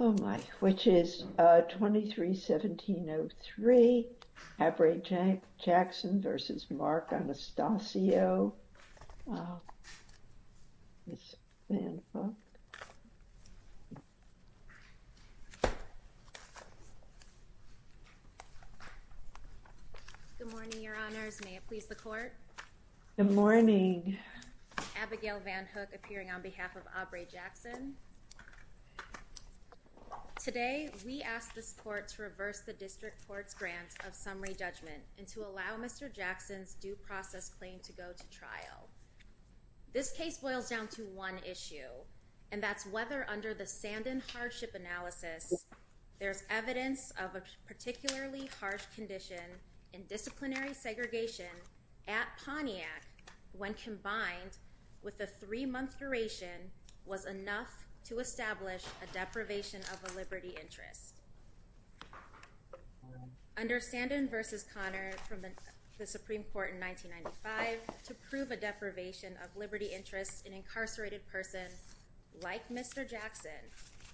Oh, my. Which is 23-1703, Abre Jackson v. Marc Anastacio, Miss Van Hook. Good morning, Your Honors. May it please the court? Good morning. Abigail Van Hook, appearing on behalf of Abre Jackson. Today, we ask this court to reverse the district court's grant of summary judgment and to allow Mr. Jackson's due process claim to go to trial. This case boils down to one issue, and that's whether under the Sandin hardship analysis, there's evidence of a particularly harsh condition in disciplinary segregation at Pontiac when combined with a three-month duration was enough to establish a deprivation of a liberty interest. Under Sandin v. Connor from the Supreme Court in 1995, to prove a deprivation of liberty interest, an incarcerated person, like Mr. Jackson,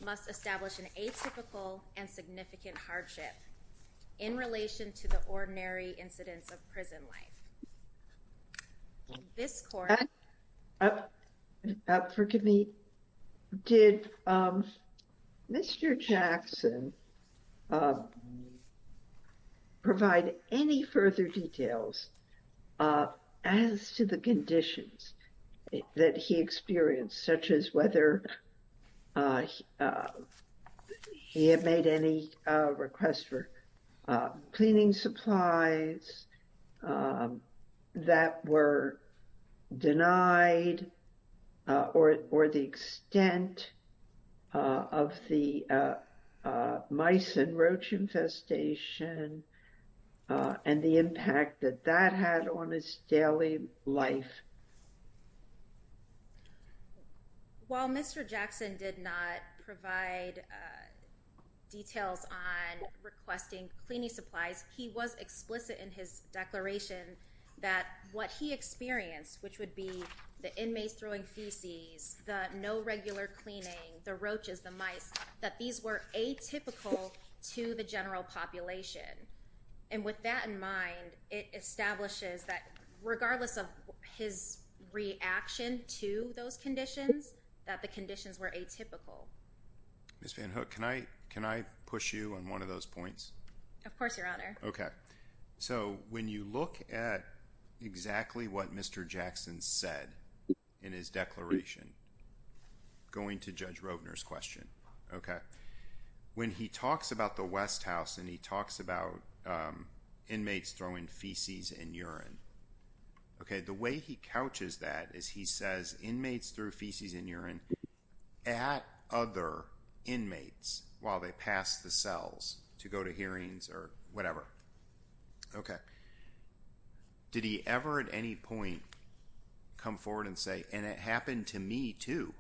must establish an atypical and significant hardship in relation to the ordinary incidence of prison life. This court. Forgive me. Did Mr. Jackson provide any further details as to the conditions that he experienced, such as whether he had made any requests for cleaning supplies that were denied, or the extent of the mice and roach infestation, and the impact that that had on his daily life? While Mr. Jackson did not provide details on requesting cleaning supplies, he was explicit in his declaration that what he experienced, which would be the inmates throwing feces, the no regular cleaning, the roaches, the mice, that these were atypical to the general population. And with that in mind, it establishes that regardless of his reaction to those conditions, that the conditions were atypical. Ms. Van Hook, can I push you on one of those points? Of course, Your Honor. So when you look at exactly what Mr. Jackson said in his declaration, going to Judge Rovner's question, when he talks about the West House, and he talks about inmates throwing feces and urine, the way he couches that is he says, inmates threw feces and urine at other inmates while they passed the cells to go to hearings or whatever. Did he ever at any point come forward and say, and it happened to me too?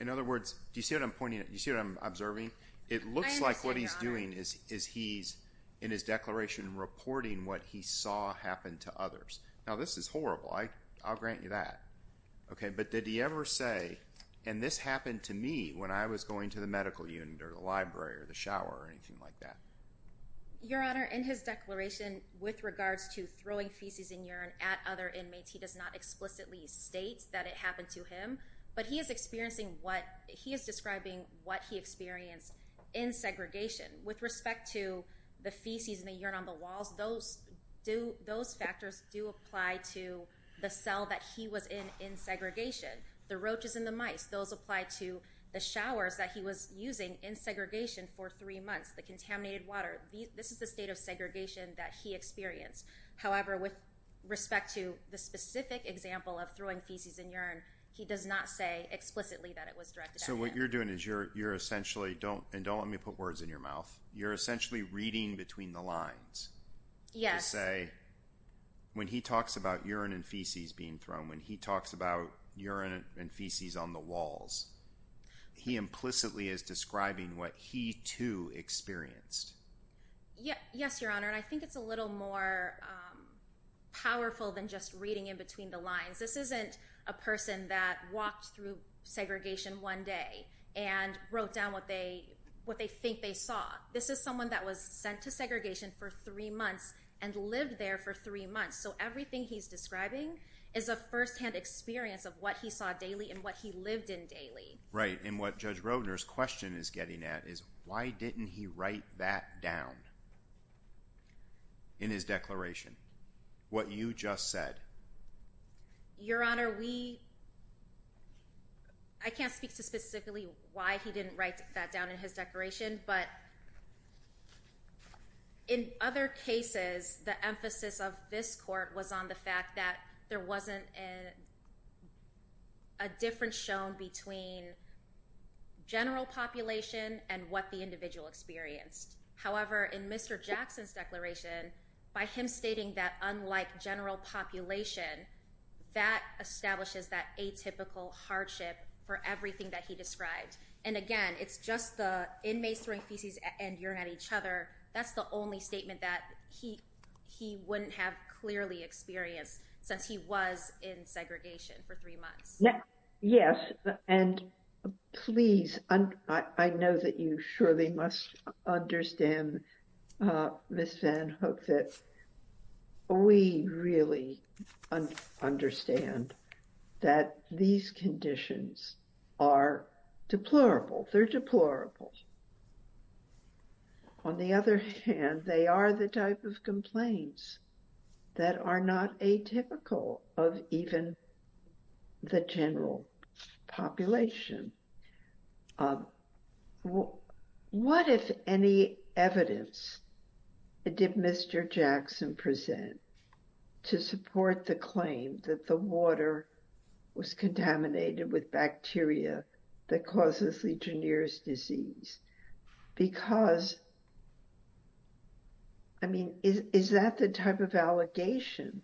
In other words, do you see what I'm pointing at? Do you see what I'm observing? It looks like what he's doing is he's, in his declaration, reporting what he saw happen to others. Now, this is horrible. I'll grant you that. But did he ever say, and this happened to me when I was going to the medical unit or the library or the shower or anything like that? Your Honor, in his declaration with regards to throwing feces and urine at other inmates, he does not explicitly state that it happened to him. But he is experiencing what, he is describing what he experienced in segregation. With respect to the feces and the urine on the walls, those factors do apply to the cell that he was in in segregation. The roaches and the mice, those apply to the showers that he was using in segregation for three months, the contaminated water. This is the state of segregation that he experienced. However, with respect to the specific example of throwing feces and urine, he does not say explicitly that it was directed at him. So what you're doing is you're essentially, and don't let me put words in your mouth, you're essentially reading between the lines. Yes. To say, when he talks about urine and feces being thrown, when he talks about urine and feces on the walls, he implicitly is describing what he too experienced. Yes, Your Honor, and I think it's a little more powerful than just reading in between the lines. This isn't a person that walked through segregation one day and wrote down what they think they saw. This is someone that was sent to segregation for three months and lived there for three months. So everything he's describing is a firsthand experience of what he saw daily and what he lived in daily. Right, and what Judge Roedner's question is getting at is why didn't he write that down in his declaration? What you just said. Your Honor, we... I can't speak to specifically why he didn't write that down in his declaration, but in other cases, the emphasis of this court was on the fact that there wasn't a difference shown between general population and what the individual experienced. However, in Mr. Jackson's declaration, by him stating that unlike general population, that establishes that atypical hardship for everything that he described. And again, it's just the inmates throwing feces and urine at each other. That's the only statement that he wouldn't have clearly experienced since he was in segregation for three months. Yes, and please, I know that you surely must understand, Ms. Van Hook, that we really understand that these conditions are deplorable. They're deplorable. On the other hand, they are the type of complaints that are not atypical of even the general population. What, if any, evidence did Mr. Jackson present to support the claim that the water was contaminated with bacteria that causes Legionnaire's disease? Because, I mean, is that the type of allegation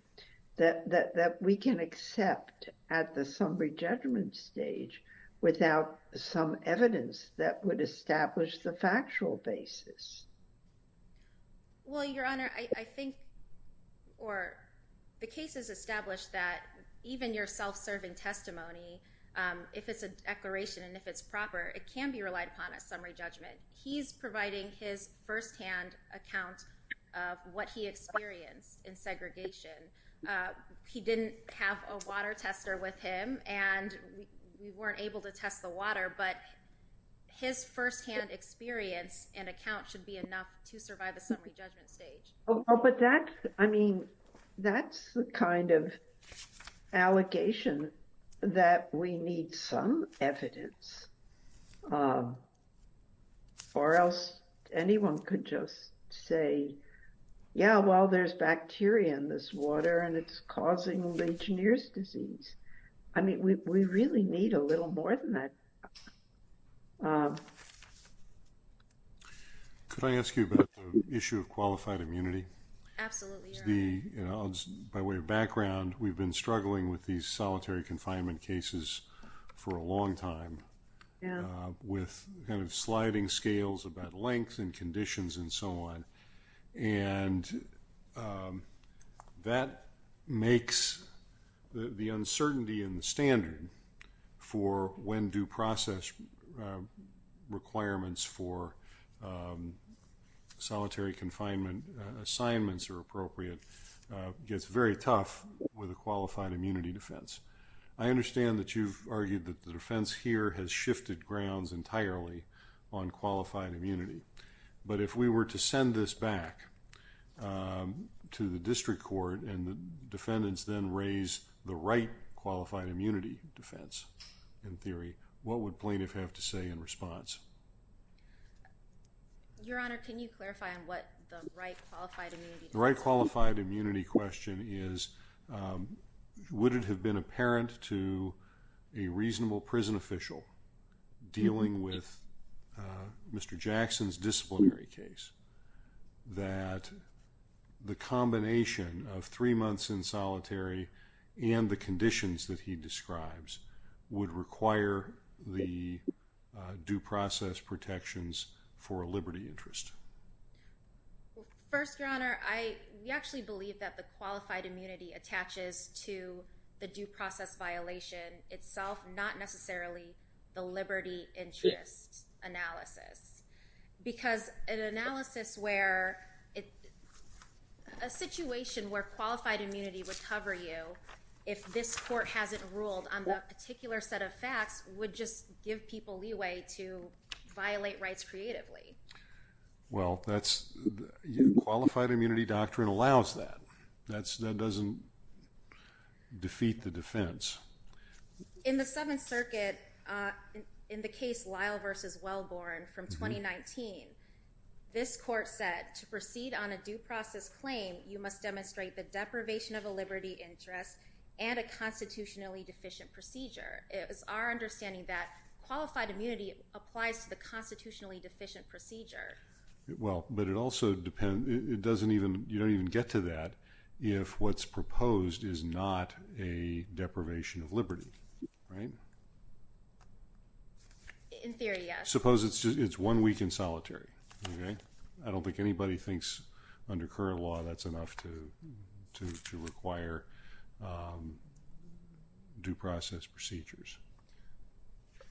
that we can accept at the summary judgment stage without some evidence that would establish the factual basis? Well, Your Honor, I think, or the case has established that even your self-serving testimony, if it's a declaration and if it's proper, it can be relied upon at summary judgment. He's providing his firsthand account of what he experienced in segregation. He didn't have a water tester with him and we weren't able to test the water, but his firsthand experience and account should be enough to survive the summary judgment stage. But that, I mean, that's the kind of allegation that we need some evidence, or else anyone could just say, yeah, well, there's bacteria in this water and it's causing Legionnaire's disease. I mean, we really need a little more than that. Could I ask you about the issue of qualified immunity? Absolutely, Your Honor. By way of background, we've been struggling with these solitary confinement cases for a long time. Yeah. With kind of sliding scales about length and conditions and so on. And that makes the uncertainty in the standard for when due process requirements for solitary confinement assignments are appropriate, gets very tough with a qualified immunity defense. I understand that you've argued that the defense here has shifted grounds entirely on qualified immunity. But if we were to send this back to the district court and the defendants then raise the right qualified immunity defense in theory, what would plaintiff have to say in response? Your Honor, can you clarify on what the right qualified immunity defense? The right qualified immunity question is, would it have been apparent to a reasonable prison official dealing with Mr. Jackson's disciplinary case that the combination of three months in solitary and the conditions that he describes would require the due process protections for a liberty interest? First, Your Honor, we actually believe that the qualified immunity attaches to the due process violation itself, not necessarily the liberty interest analysis. Because an analysis where, a situation where qualified immunity would cover you if this court hasn't ruled on that particular set of facts would just give people leeway to violate rights creatively. Well, qualified immunity doctrine allows that. That doesn't defeat the defense. In the Seventh Circuit, in the case Lyle versus Wellborn from 2019, this court said, to proceed on a due process claim, you must demonstrate the deprivation of a liberty interest and a constitutionally deficient procedure. It was our understanding that qualified immunity applies to the constitutionally deficient procedure. Well, but it also depends, it doesn't even, you don't even get to that if what's proposed is not a deprivation of liberty, right? In theory, yes. Suppose it's one week in solitary, okay? I don't think anybody thinks under current law that's enough to require due process procedures.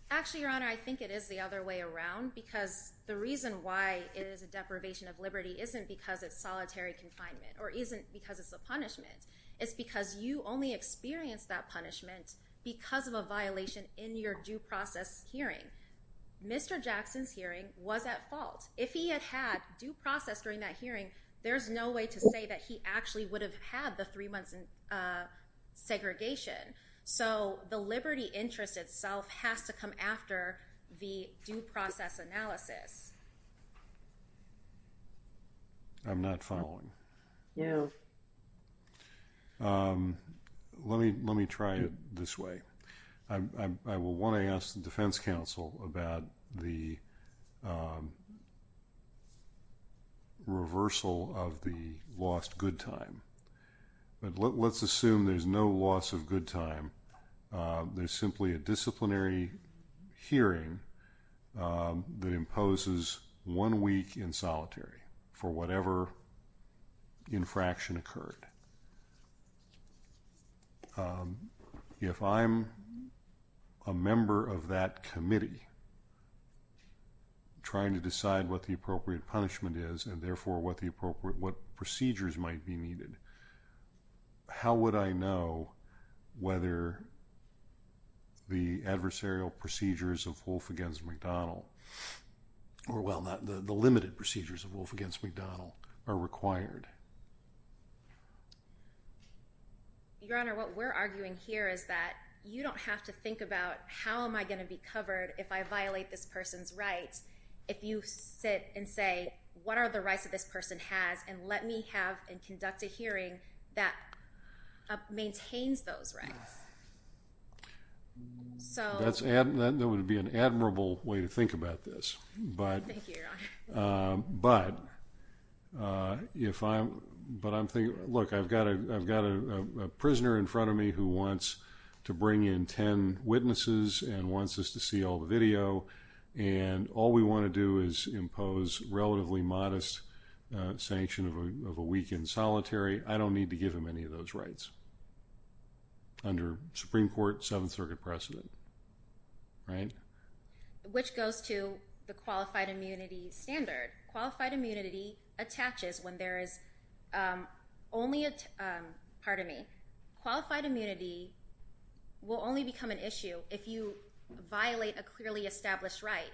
Actually, Your Honor, I think it is the other way around because the reason why it is a deprivation of liberty isn't because it's solitary confinement or isn't because it's a punishment. It's because you only experience that punishment because of a violation in your due process hearing. Mr. Jackson's hearing was at fault. If he had had due process during that hearing, there's no way to say that he actually would have had the three months in segregation. So the liberty interest itself has to come after the due process analysis. I'm not following. No. Let me try it this way. I will wanna ask the defense counsel about the reversal of the lost good time. But let's assume there's no loss of good time. There's simply a disciplinary hearing that imposes one week in solitary for whatever infraction occurred. If I'm a member of that committee trying to decide what the appropriate punishment is and therefore what procedures might be needed, how would I know whether the adversarial procedures of Wolf against McDonald, or well, the limited procedures of Wolf against McDonald are required? Your Honor, what we're arguing here is that you don't have to think about how am I gonna be covered if I violate this person's rights if you sit and say, what are the rights that this person has and let me have and conduct a hearing that maintains those rights? So- That would be an admirable way to think about it. I would think about this, but- Thank you, Your Honor. But if I'm, but I'm thinking, look, I've got a prisoner in front of me who wants to bring in 10 witnesses and wants us to see all the video and all we wanna do is impose relatively modest sanction of a week in solitary. I don't need to give him any of those rights under Supreme Court Seventh Circuit precedent, right? Which goes to the qualified immunity standard. Qualified immunity attaches when there is only a, pardon me, qualified immunity will only become an issue if you violate a clearly established right.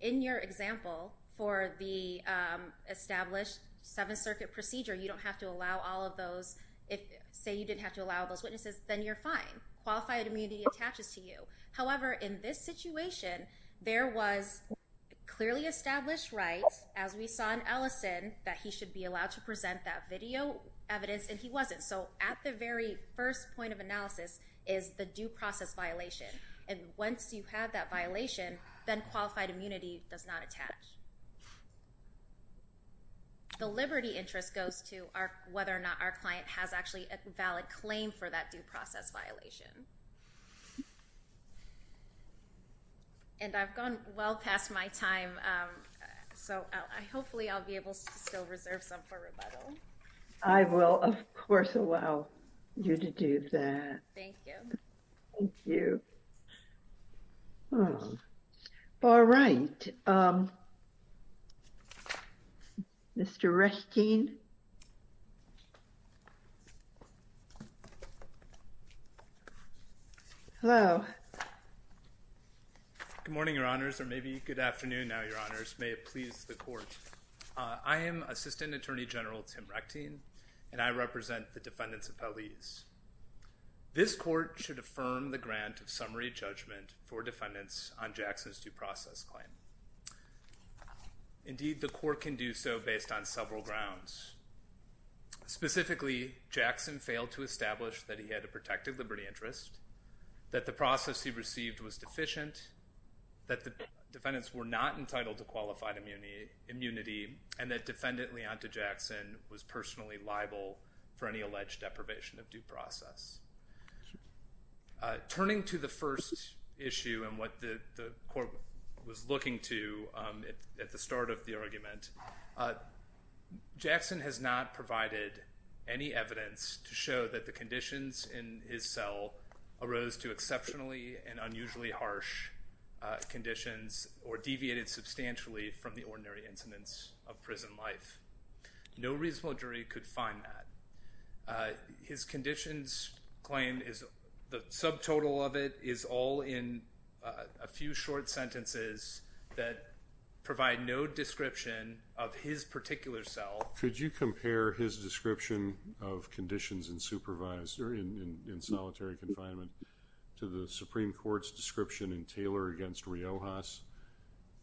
In your example for the established Seventh Circuit procedure, you don't have to allow all of those. If say you didn't have to allow those witnesses, then you're fine. Qualified immunity attaches to you. However, in this situation, there was clearly established rights, as we saw in Ellison, that he should be allowed to present that video evidence and he wasn't. So at the very first point of analysis is the due process violation. And once you have that violation, then qualified immunity does not attach. The liberty interest goes to whether or not our client has actually a valid claim for that due process violation. And I've gone well past my time. So hopefully I'll be able to still reserve some for rebuttal. I will, of course, allow you to do that. Thank you. Thank you. All right. Mr. Reshteyn. Mr. Reshteyn. Hello. Good morning, your honors, or maybe good afternoon now, your honors. May it please the court. I am Assistant Attorney General Tim Reshteyn, and I represent the defendants of Pelleas. This court should affirm the grant of summary judgment for defendants on Jackson's due process claim. Indeed, the court can do so based on several grounds. Specifically, Jackson failed to establish that he had a protected liberty interest, that the process he received was deficient, that the defendants were not entitled to qualified immunity, and that defendant Leonta Jackson was personally liable for any alleged deprivation of due process. Turning to the first issue and what the court was looking to at the start of the argument, Jackson has not provided any evidence to show that the conditions in his cell arose to exceptionally and unusually harsh conditions or deviated substantially from the ordinary incidents of prison life. No reasonable jury could find that. His conditions claim, the subtotal of it, is all in a few short sentences that provide no description of his particular cell. Could you compare his description of conditions in solitary confinement to the Supreme Court's description in Taylor v. Riojas,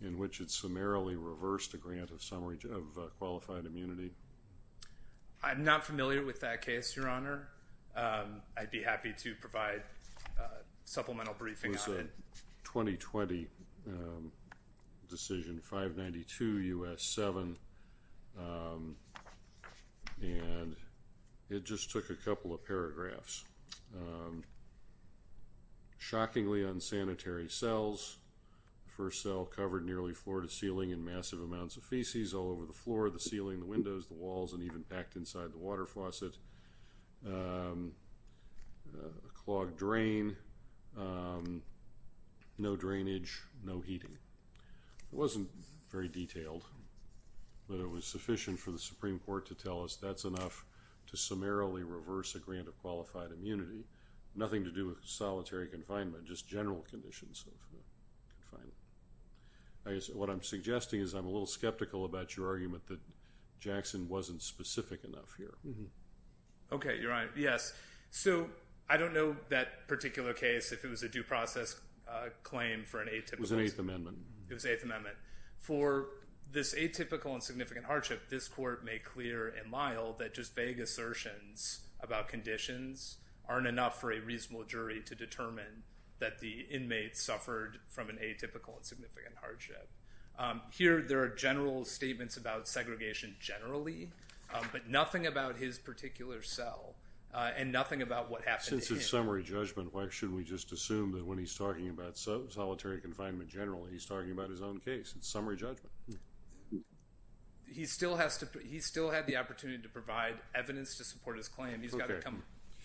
in which it summarily reversed a grant of qualified immunity? I'm not familiar with that case, Your Honor. I'd be happy to provide supplemental briefing on it. It was a 2020 decision, 592 U.S. 7. And it just took a couple of paragraphs. Shockingly unsanitary cells. First cell covered nearly floor to ceiling in massive amounts of feces all over the floor, the ceiling, the windows, the walls, and even packed inside the water faucet. A clogged drain. No drainage, no heating. It wasn't very detailed, but it was sufficient for the Supreme Court to tell us that's enough to summarily reverse a grant of qualified immunity. Nothing to do with solitary confinement, just general conditions of confinement. What I'm suggesting is I'm a little skeptical about your argument that Jackson wasn't specific enough here. Okay, Your Honor, yes. So, I don't know that particular case, if it was a due process claim for an atypical. It was an Eighth Amendment. It was Eighth Amendment. For this atypical and significant hardship, this court made clear and mild that just vague assertions about conditions aren't enough for a reasonable jury to determine that the inmate suffered from an atypical and significant hardship. Here, there are general statements about segregation generally, but nothing about his particular cell, and nothing about what happened to him. Since it's summary judgment, why shouldn't we just assume that when he's talking about solitary confinement generally, he's talking about his own case? It's summary judgment. He still had the opportunity to provide evidence to support his claim. He's gotta come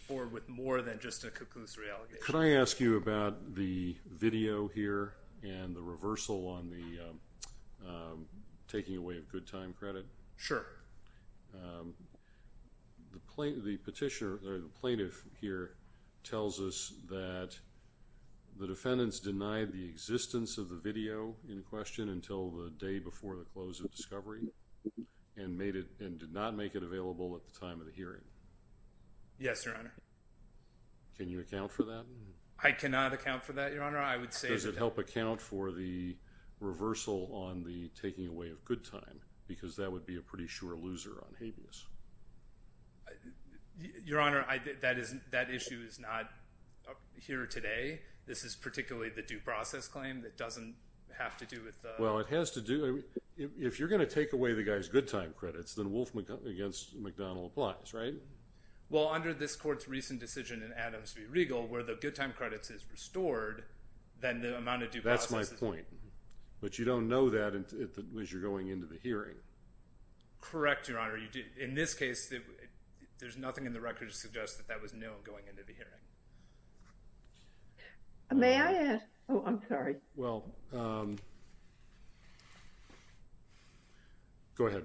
forward with more than just a conclusive reallocation. Could I ask you about the video here and the reversal on the taking away of good time credit? Sure. The petitioner, or the plaintiff here, tells us that the defendants denied the existence of the video in question until the day before the close of discovery, and did not make it available at the time of the hearing. Yes, Your Honor. Can you account for that? I cannot account for that, Your Honor. I would say that- Does it help account for the reversal on the taking away of good time? Because that would be a pretty sure loser on habeas. Your Honor, that issue is not here today. This is particularly the due process claim that doesn't have to do with the- Well, it has to do, if you're gonna take away the guy's good time credits, then Wolf v. McDonnell applies, right? Well, under this court's recent decision in Adams v. Riegel, where the good time credits is restored, then the amount of due process- That's my point. But you don't know that as you're going into the hearing. Correct, Your Honor. In this case, there's nothing in the record to suggest that that was known going into the hearing. May I add? Oh, I'm sorry. Well, go ahead.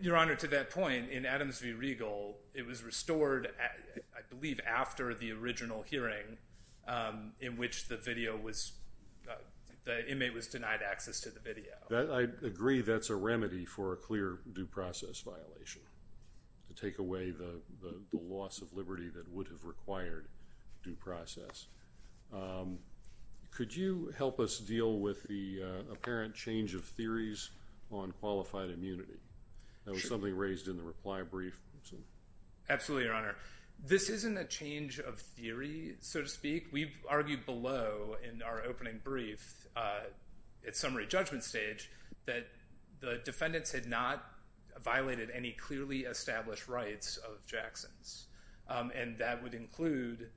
Your Honor, to that point, in Adams v. Riegel, it was restored, I believe, after the original hearing in which the video was, the inmate was denied access to the video. I agree that's a remedy for a clear due process violation to take away the loss of liberty that would have required due process. Could you help us deal with the apparent change of theories on qualified immunity? That was something raised in the reply brief. Absolutely, Your Honor. This isn't a change of theory, so to speak. We've argued below in our opening brief at summary judgment stage that the defendants had not violated any clearly established rights of Jackson's, and that would include,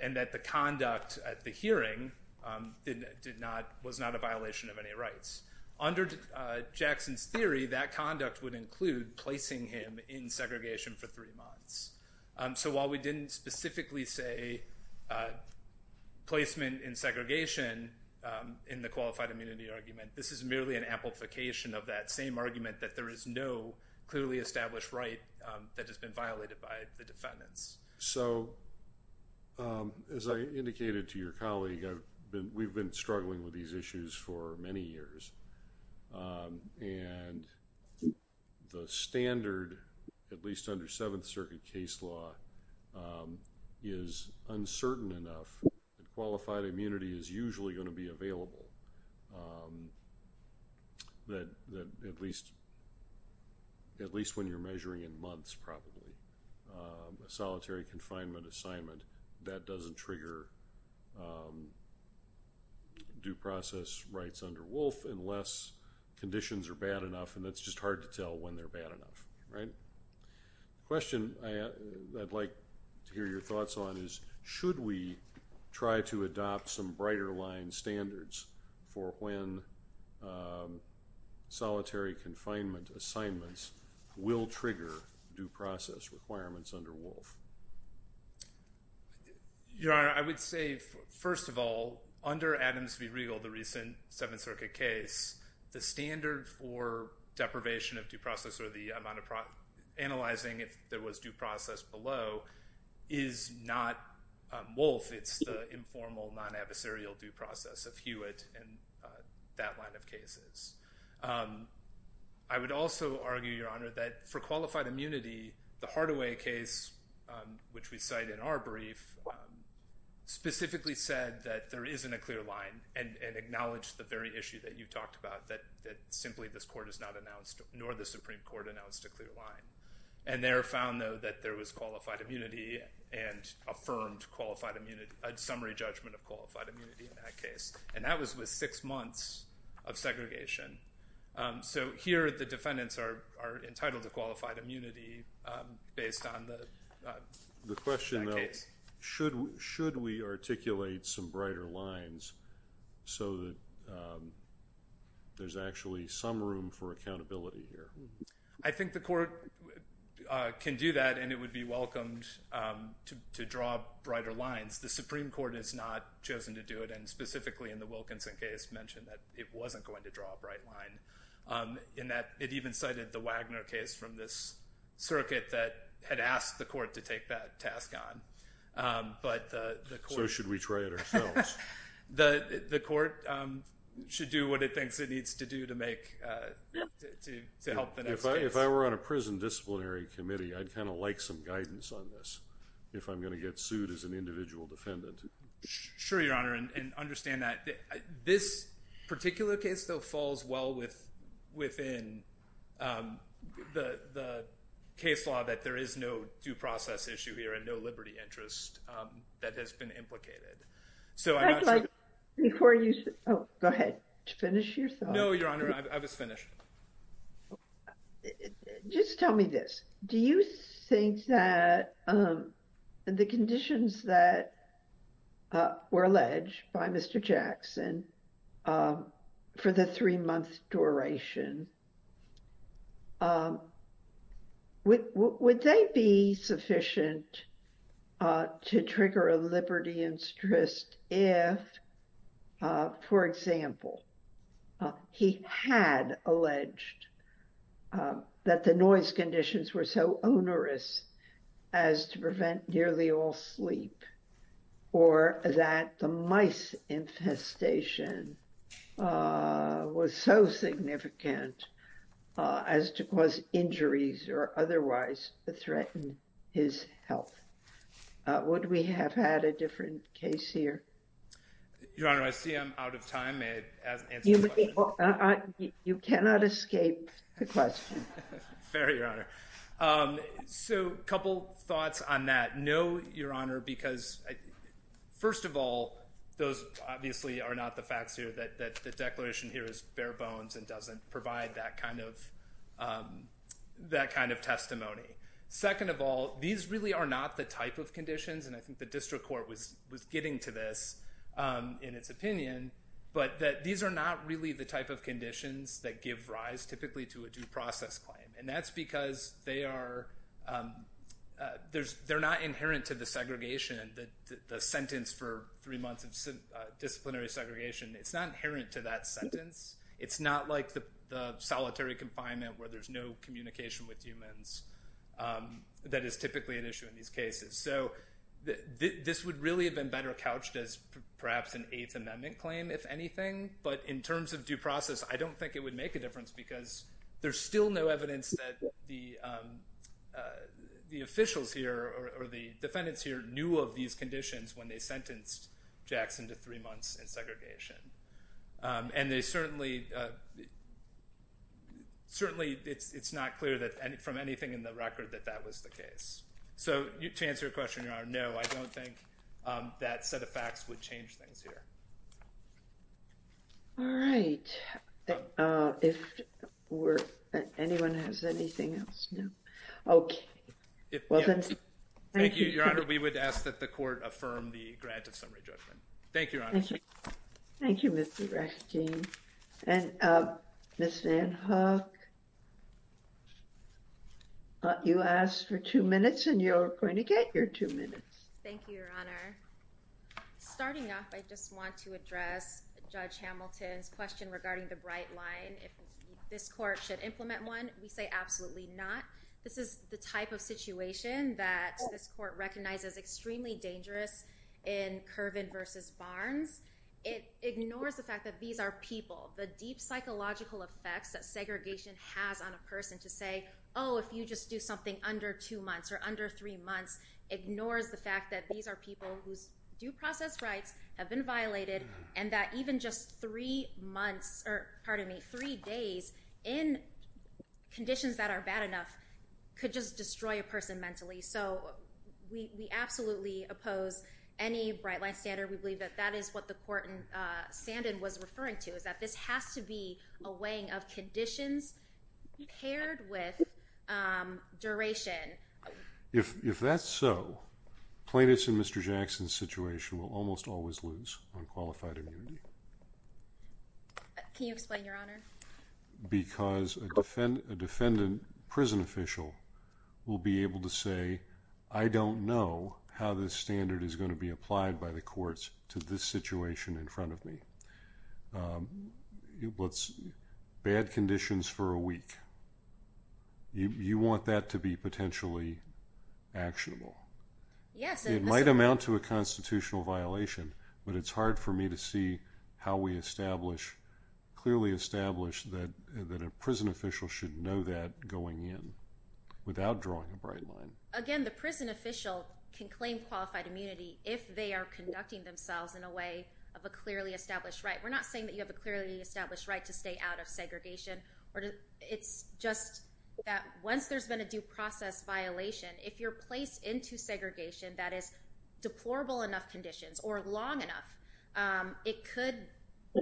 and that the conduct at the hearing was not a violation of any rights. Under Jackson's theory, that conduct would include placing him in segregation for three months. So, while we didn't specifically say placement in segregation in the qualified immunity argument, this is merely an amplification of that same argument that there is no clearly established right that has been violated by the defendants. So, as I indicated to your colleague, we've been struggling with these issues for many years, and the standard, at least under Seventh Circuit case law, is uncertain enough that qualified immunity is usually gonna be available, that at least when you're measuring in months, probably, a solitary confinement assignment, that doesn't trigger due process rights under Wolf unless conditions are bad enough, and that's just hard to tell when they're bad enough. Question I'd like to hear your thoughts on is, should we try to adopt some brighter line standards for when solitary confinement assignments will trigger due process requirements under Wolf? Your Honor, I would say, first of all, under Adams v. Riegel, the recent Seventh Circuit case, the standard for deprivation of due process or the amount of analyzing if there was due process below is not Wolf, it's the informal non-adversarial due process of Hewitt and that line of cases. I would also argue, Your Honor, that for qualified immunity, the Hardaway case, which we cite in our brief, specifically said that there isn't a clear line and acknowledged the very issue that you talked about, that simply this court has not announced, nor the Supreme Court announced a clear line. And there found, though, that there was qualified immunity and affirmed a summary judgment of qualified immunity in that case, and that was with six months of segregation. So here, the defendants are entitled to qualified immunity based on that case. Should we articulate some brighter lines so that there's actually some room for accountability here? I think the court can do that and it would be welcomed to draw brighter lines. The Supreme Court has not chosen to do it, and specifically in the Wilkinson case mentioned that it wasn't going to draw a bright line, in that it even cited the Wagner case from this circuit that had asked the court to take that task on. But the court- So should we try it ourselves? The court should do what it thinks it needs to do to make, to help the next case. If I were on a prison disciplinary committee, I'd kind of like some guidance on this, if I'm going to get sued as an individual defendant. Sure, Your Honor, and understand that. This particular case, though, falls well within the case law of the court that there is no due process issue here and no liberty interest that has been implicated. So I'm not sure- I'd like, before you, oh, go ahead, to finish your thought. No, Your Honor, I was finished. Just tell me this. Do you think that the conditions that were alleged by Mr. Jackson for the three-month duration, would they be sufficient to trigger a liberty interest if, for example, he had alleged that the noise conditions were so onerous as to prevent nearly all sleep, or that the mice infestation was so significant as to cause injuries or otherwise threaten his health? Would we have had a different case here? Your Honor, I see I'm out of time. You cannot escape the question. Fair, Your Honor. So a couple thoughts on that. No, Your Honor, because first of all, those obviously are not the facts here, that the declaration here is bare bones and doesn't provide that kind of testimony. Second of all, these really are not the type of conditions, and I think the district court was getting to this in its opinion, but that these are not really the type of conditions that give rise, typically, to a due process claim. And that's because they're not inherent to the segregation, the sentence for three months of disciplinary segregation. It's not inherent to that sentence. It's not like the solitary confinement where there's no communication with humans that is typically an issue in these cases. So this would really have been better couched as perhaps an Eighth Amendment claim, if anything. But in terms of due process, I don't think it would make a difference because there's still no evidence that the officials here, or the defendants here, knew of these conditions when they sentenced Jackson to three months in segregation. And they certainly, certainly it's not clear from anything in the record that that was the case. So to answer your question, Your Honor, no, I don't think that set of facts would change things here. All right, if anyone has anything else, no. Okay, well then. Thank you, Your Honor, we would ask that the court affirm the grant of summary judgment. Thank you, Your Honor. Thank you, Mr. Raskin. And Ms. VanHook, you asked for two minutes and you're going to get your two minutes. Thank you, Your Honor. Starting off, I just want to address Judge Hamilton's question regarding the bright line. If this court should implement one, we say absolutely not. This is the type of situation that this court recognizes extremely dangerous in Curvin versus Barnes. It ignores the fact that these are people, the deep psychological effects that segregation has on a person to say, oh, if you just do something under two months or under three months, ignores the fact that these are people whose due process rights have been violated and that even just three months, or pardon me, three days in conditions that are bad enough could just destroy a person mentally. So we absolutely oppose any bright line standard. We believe that that is what the court in Sandon was referring to, is that this has to be a weighing of conditions paired with duration. If that's so, plaintiffs in Mr. Jackson's situation will almost always lose on qualified immunity. Can you explain, Your Honor? Because a defendant prison official will be able to say, I don't know how this standard is gonna be applied by the courts to this situation in front of me. Bad conditions for a week. You want that to be potentially actionable. Yes, it must be. It might amount to a constitutional violation, but it's hard for me to see how we establish, clearly establish that a prison official should know that going in. Without drawing a bright line. Again, the prison official can claim qualified immunity if they are conducting themselves in a way of a clearly established right. We're not saying that you have a clearly established right to stay out of segregation. It's just that once there's been a due process violation, if you're placed into segregation that is deplorable enough conditions, or long enough, it could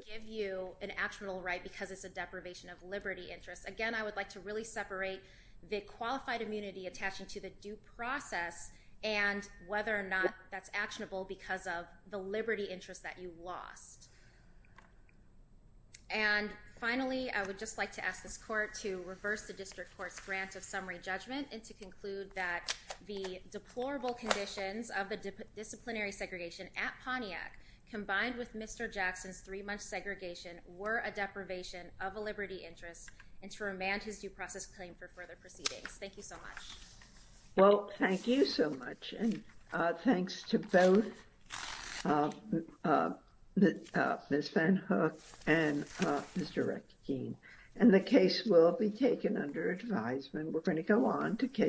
give you an actionable right because it's a deprivation of liberty interest. Again, I would like to really separate the qualified immunity attaching to the due process and whether or not that's actionable because of the liberty interest that you lost. And finally, I would just like to ask this court to reverse the district court's grant of summary judgment and to conclude that the deplorable conditions of the disciplinary segregation at Pontiac combined with Mr. Jackson's three month segregation were a deprivation of a liberty interest and to remand his due process claim for further proceedings. Thank you so much. Well, thank you so much. And thanks to both Ms. Van Hook and Mr. Rekkekeen. And the case will be taken under advisement. We're going to go on to case.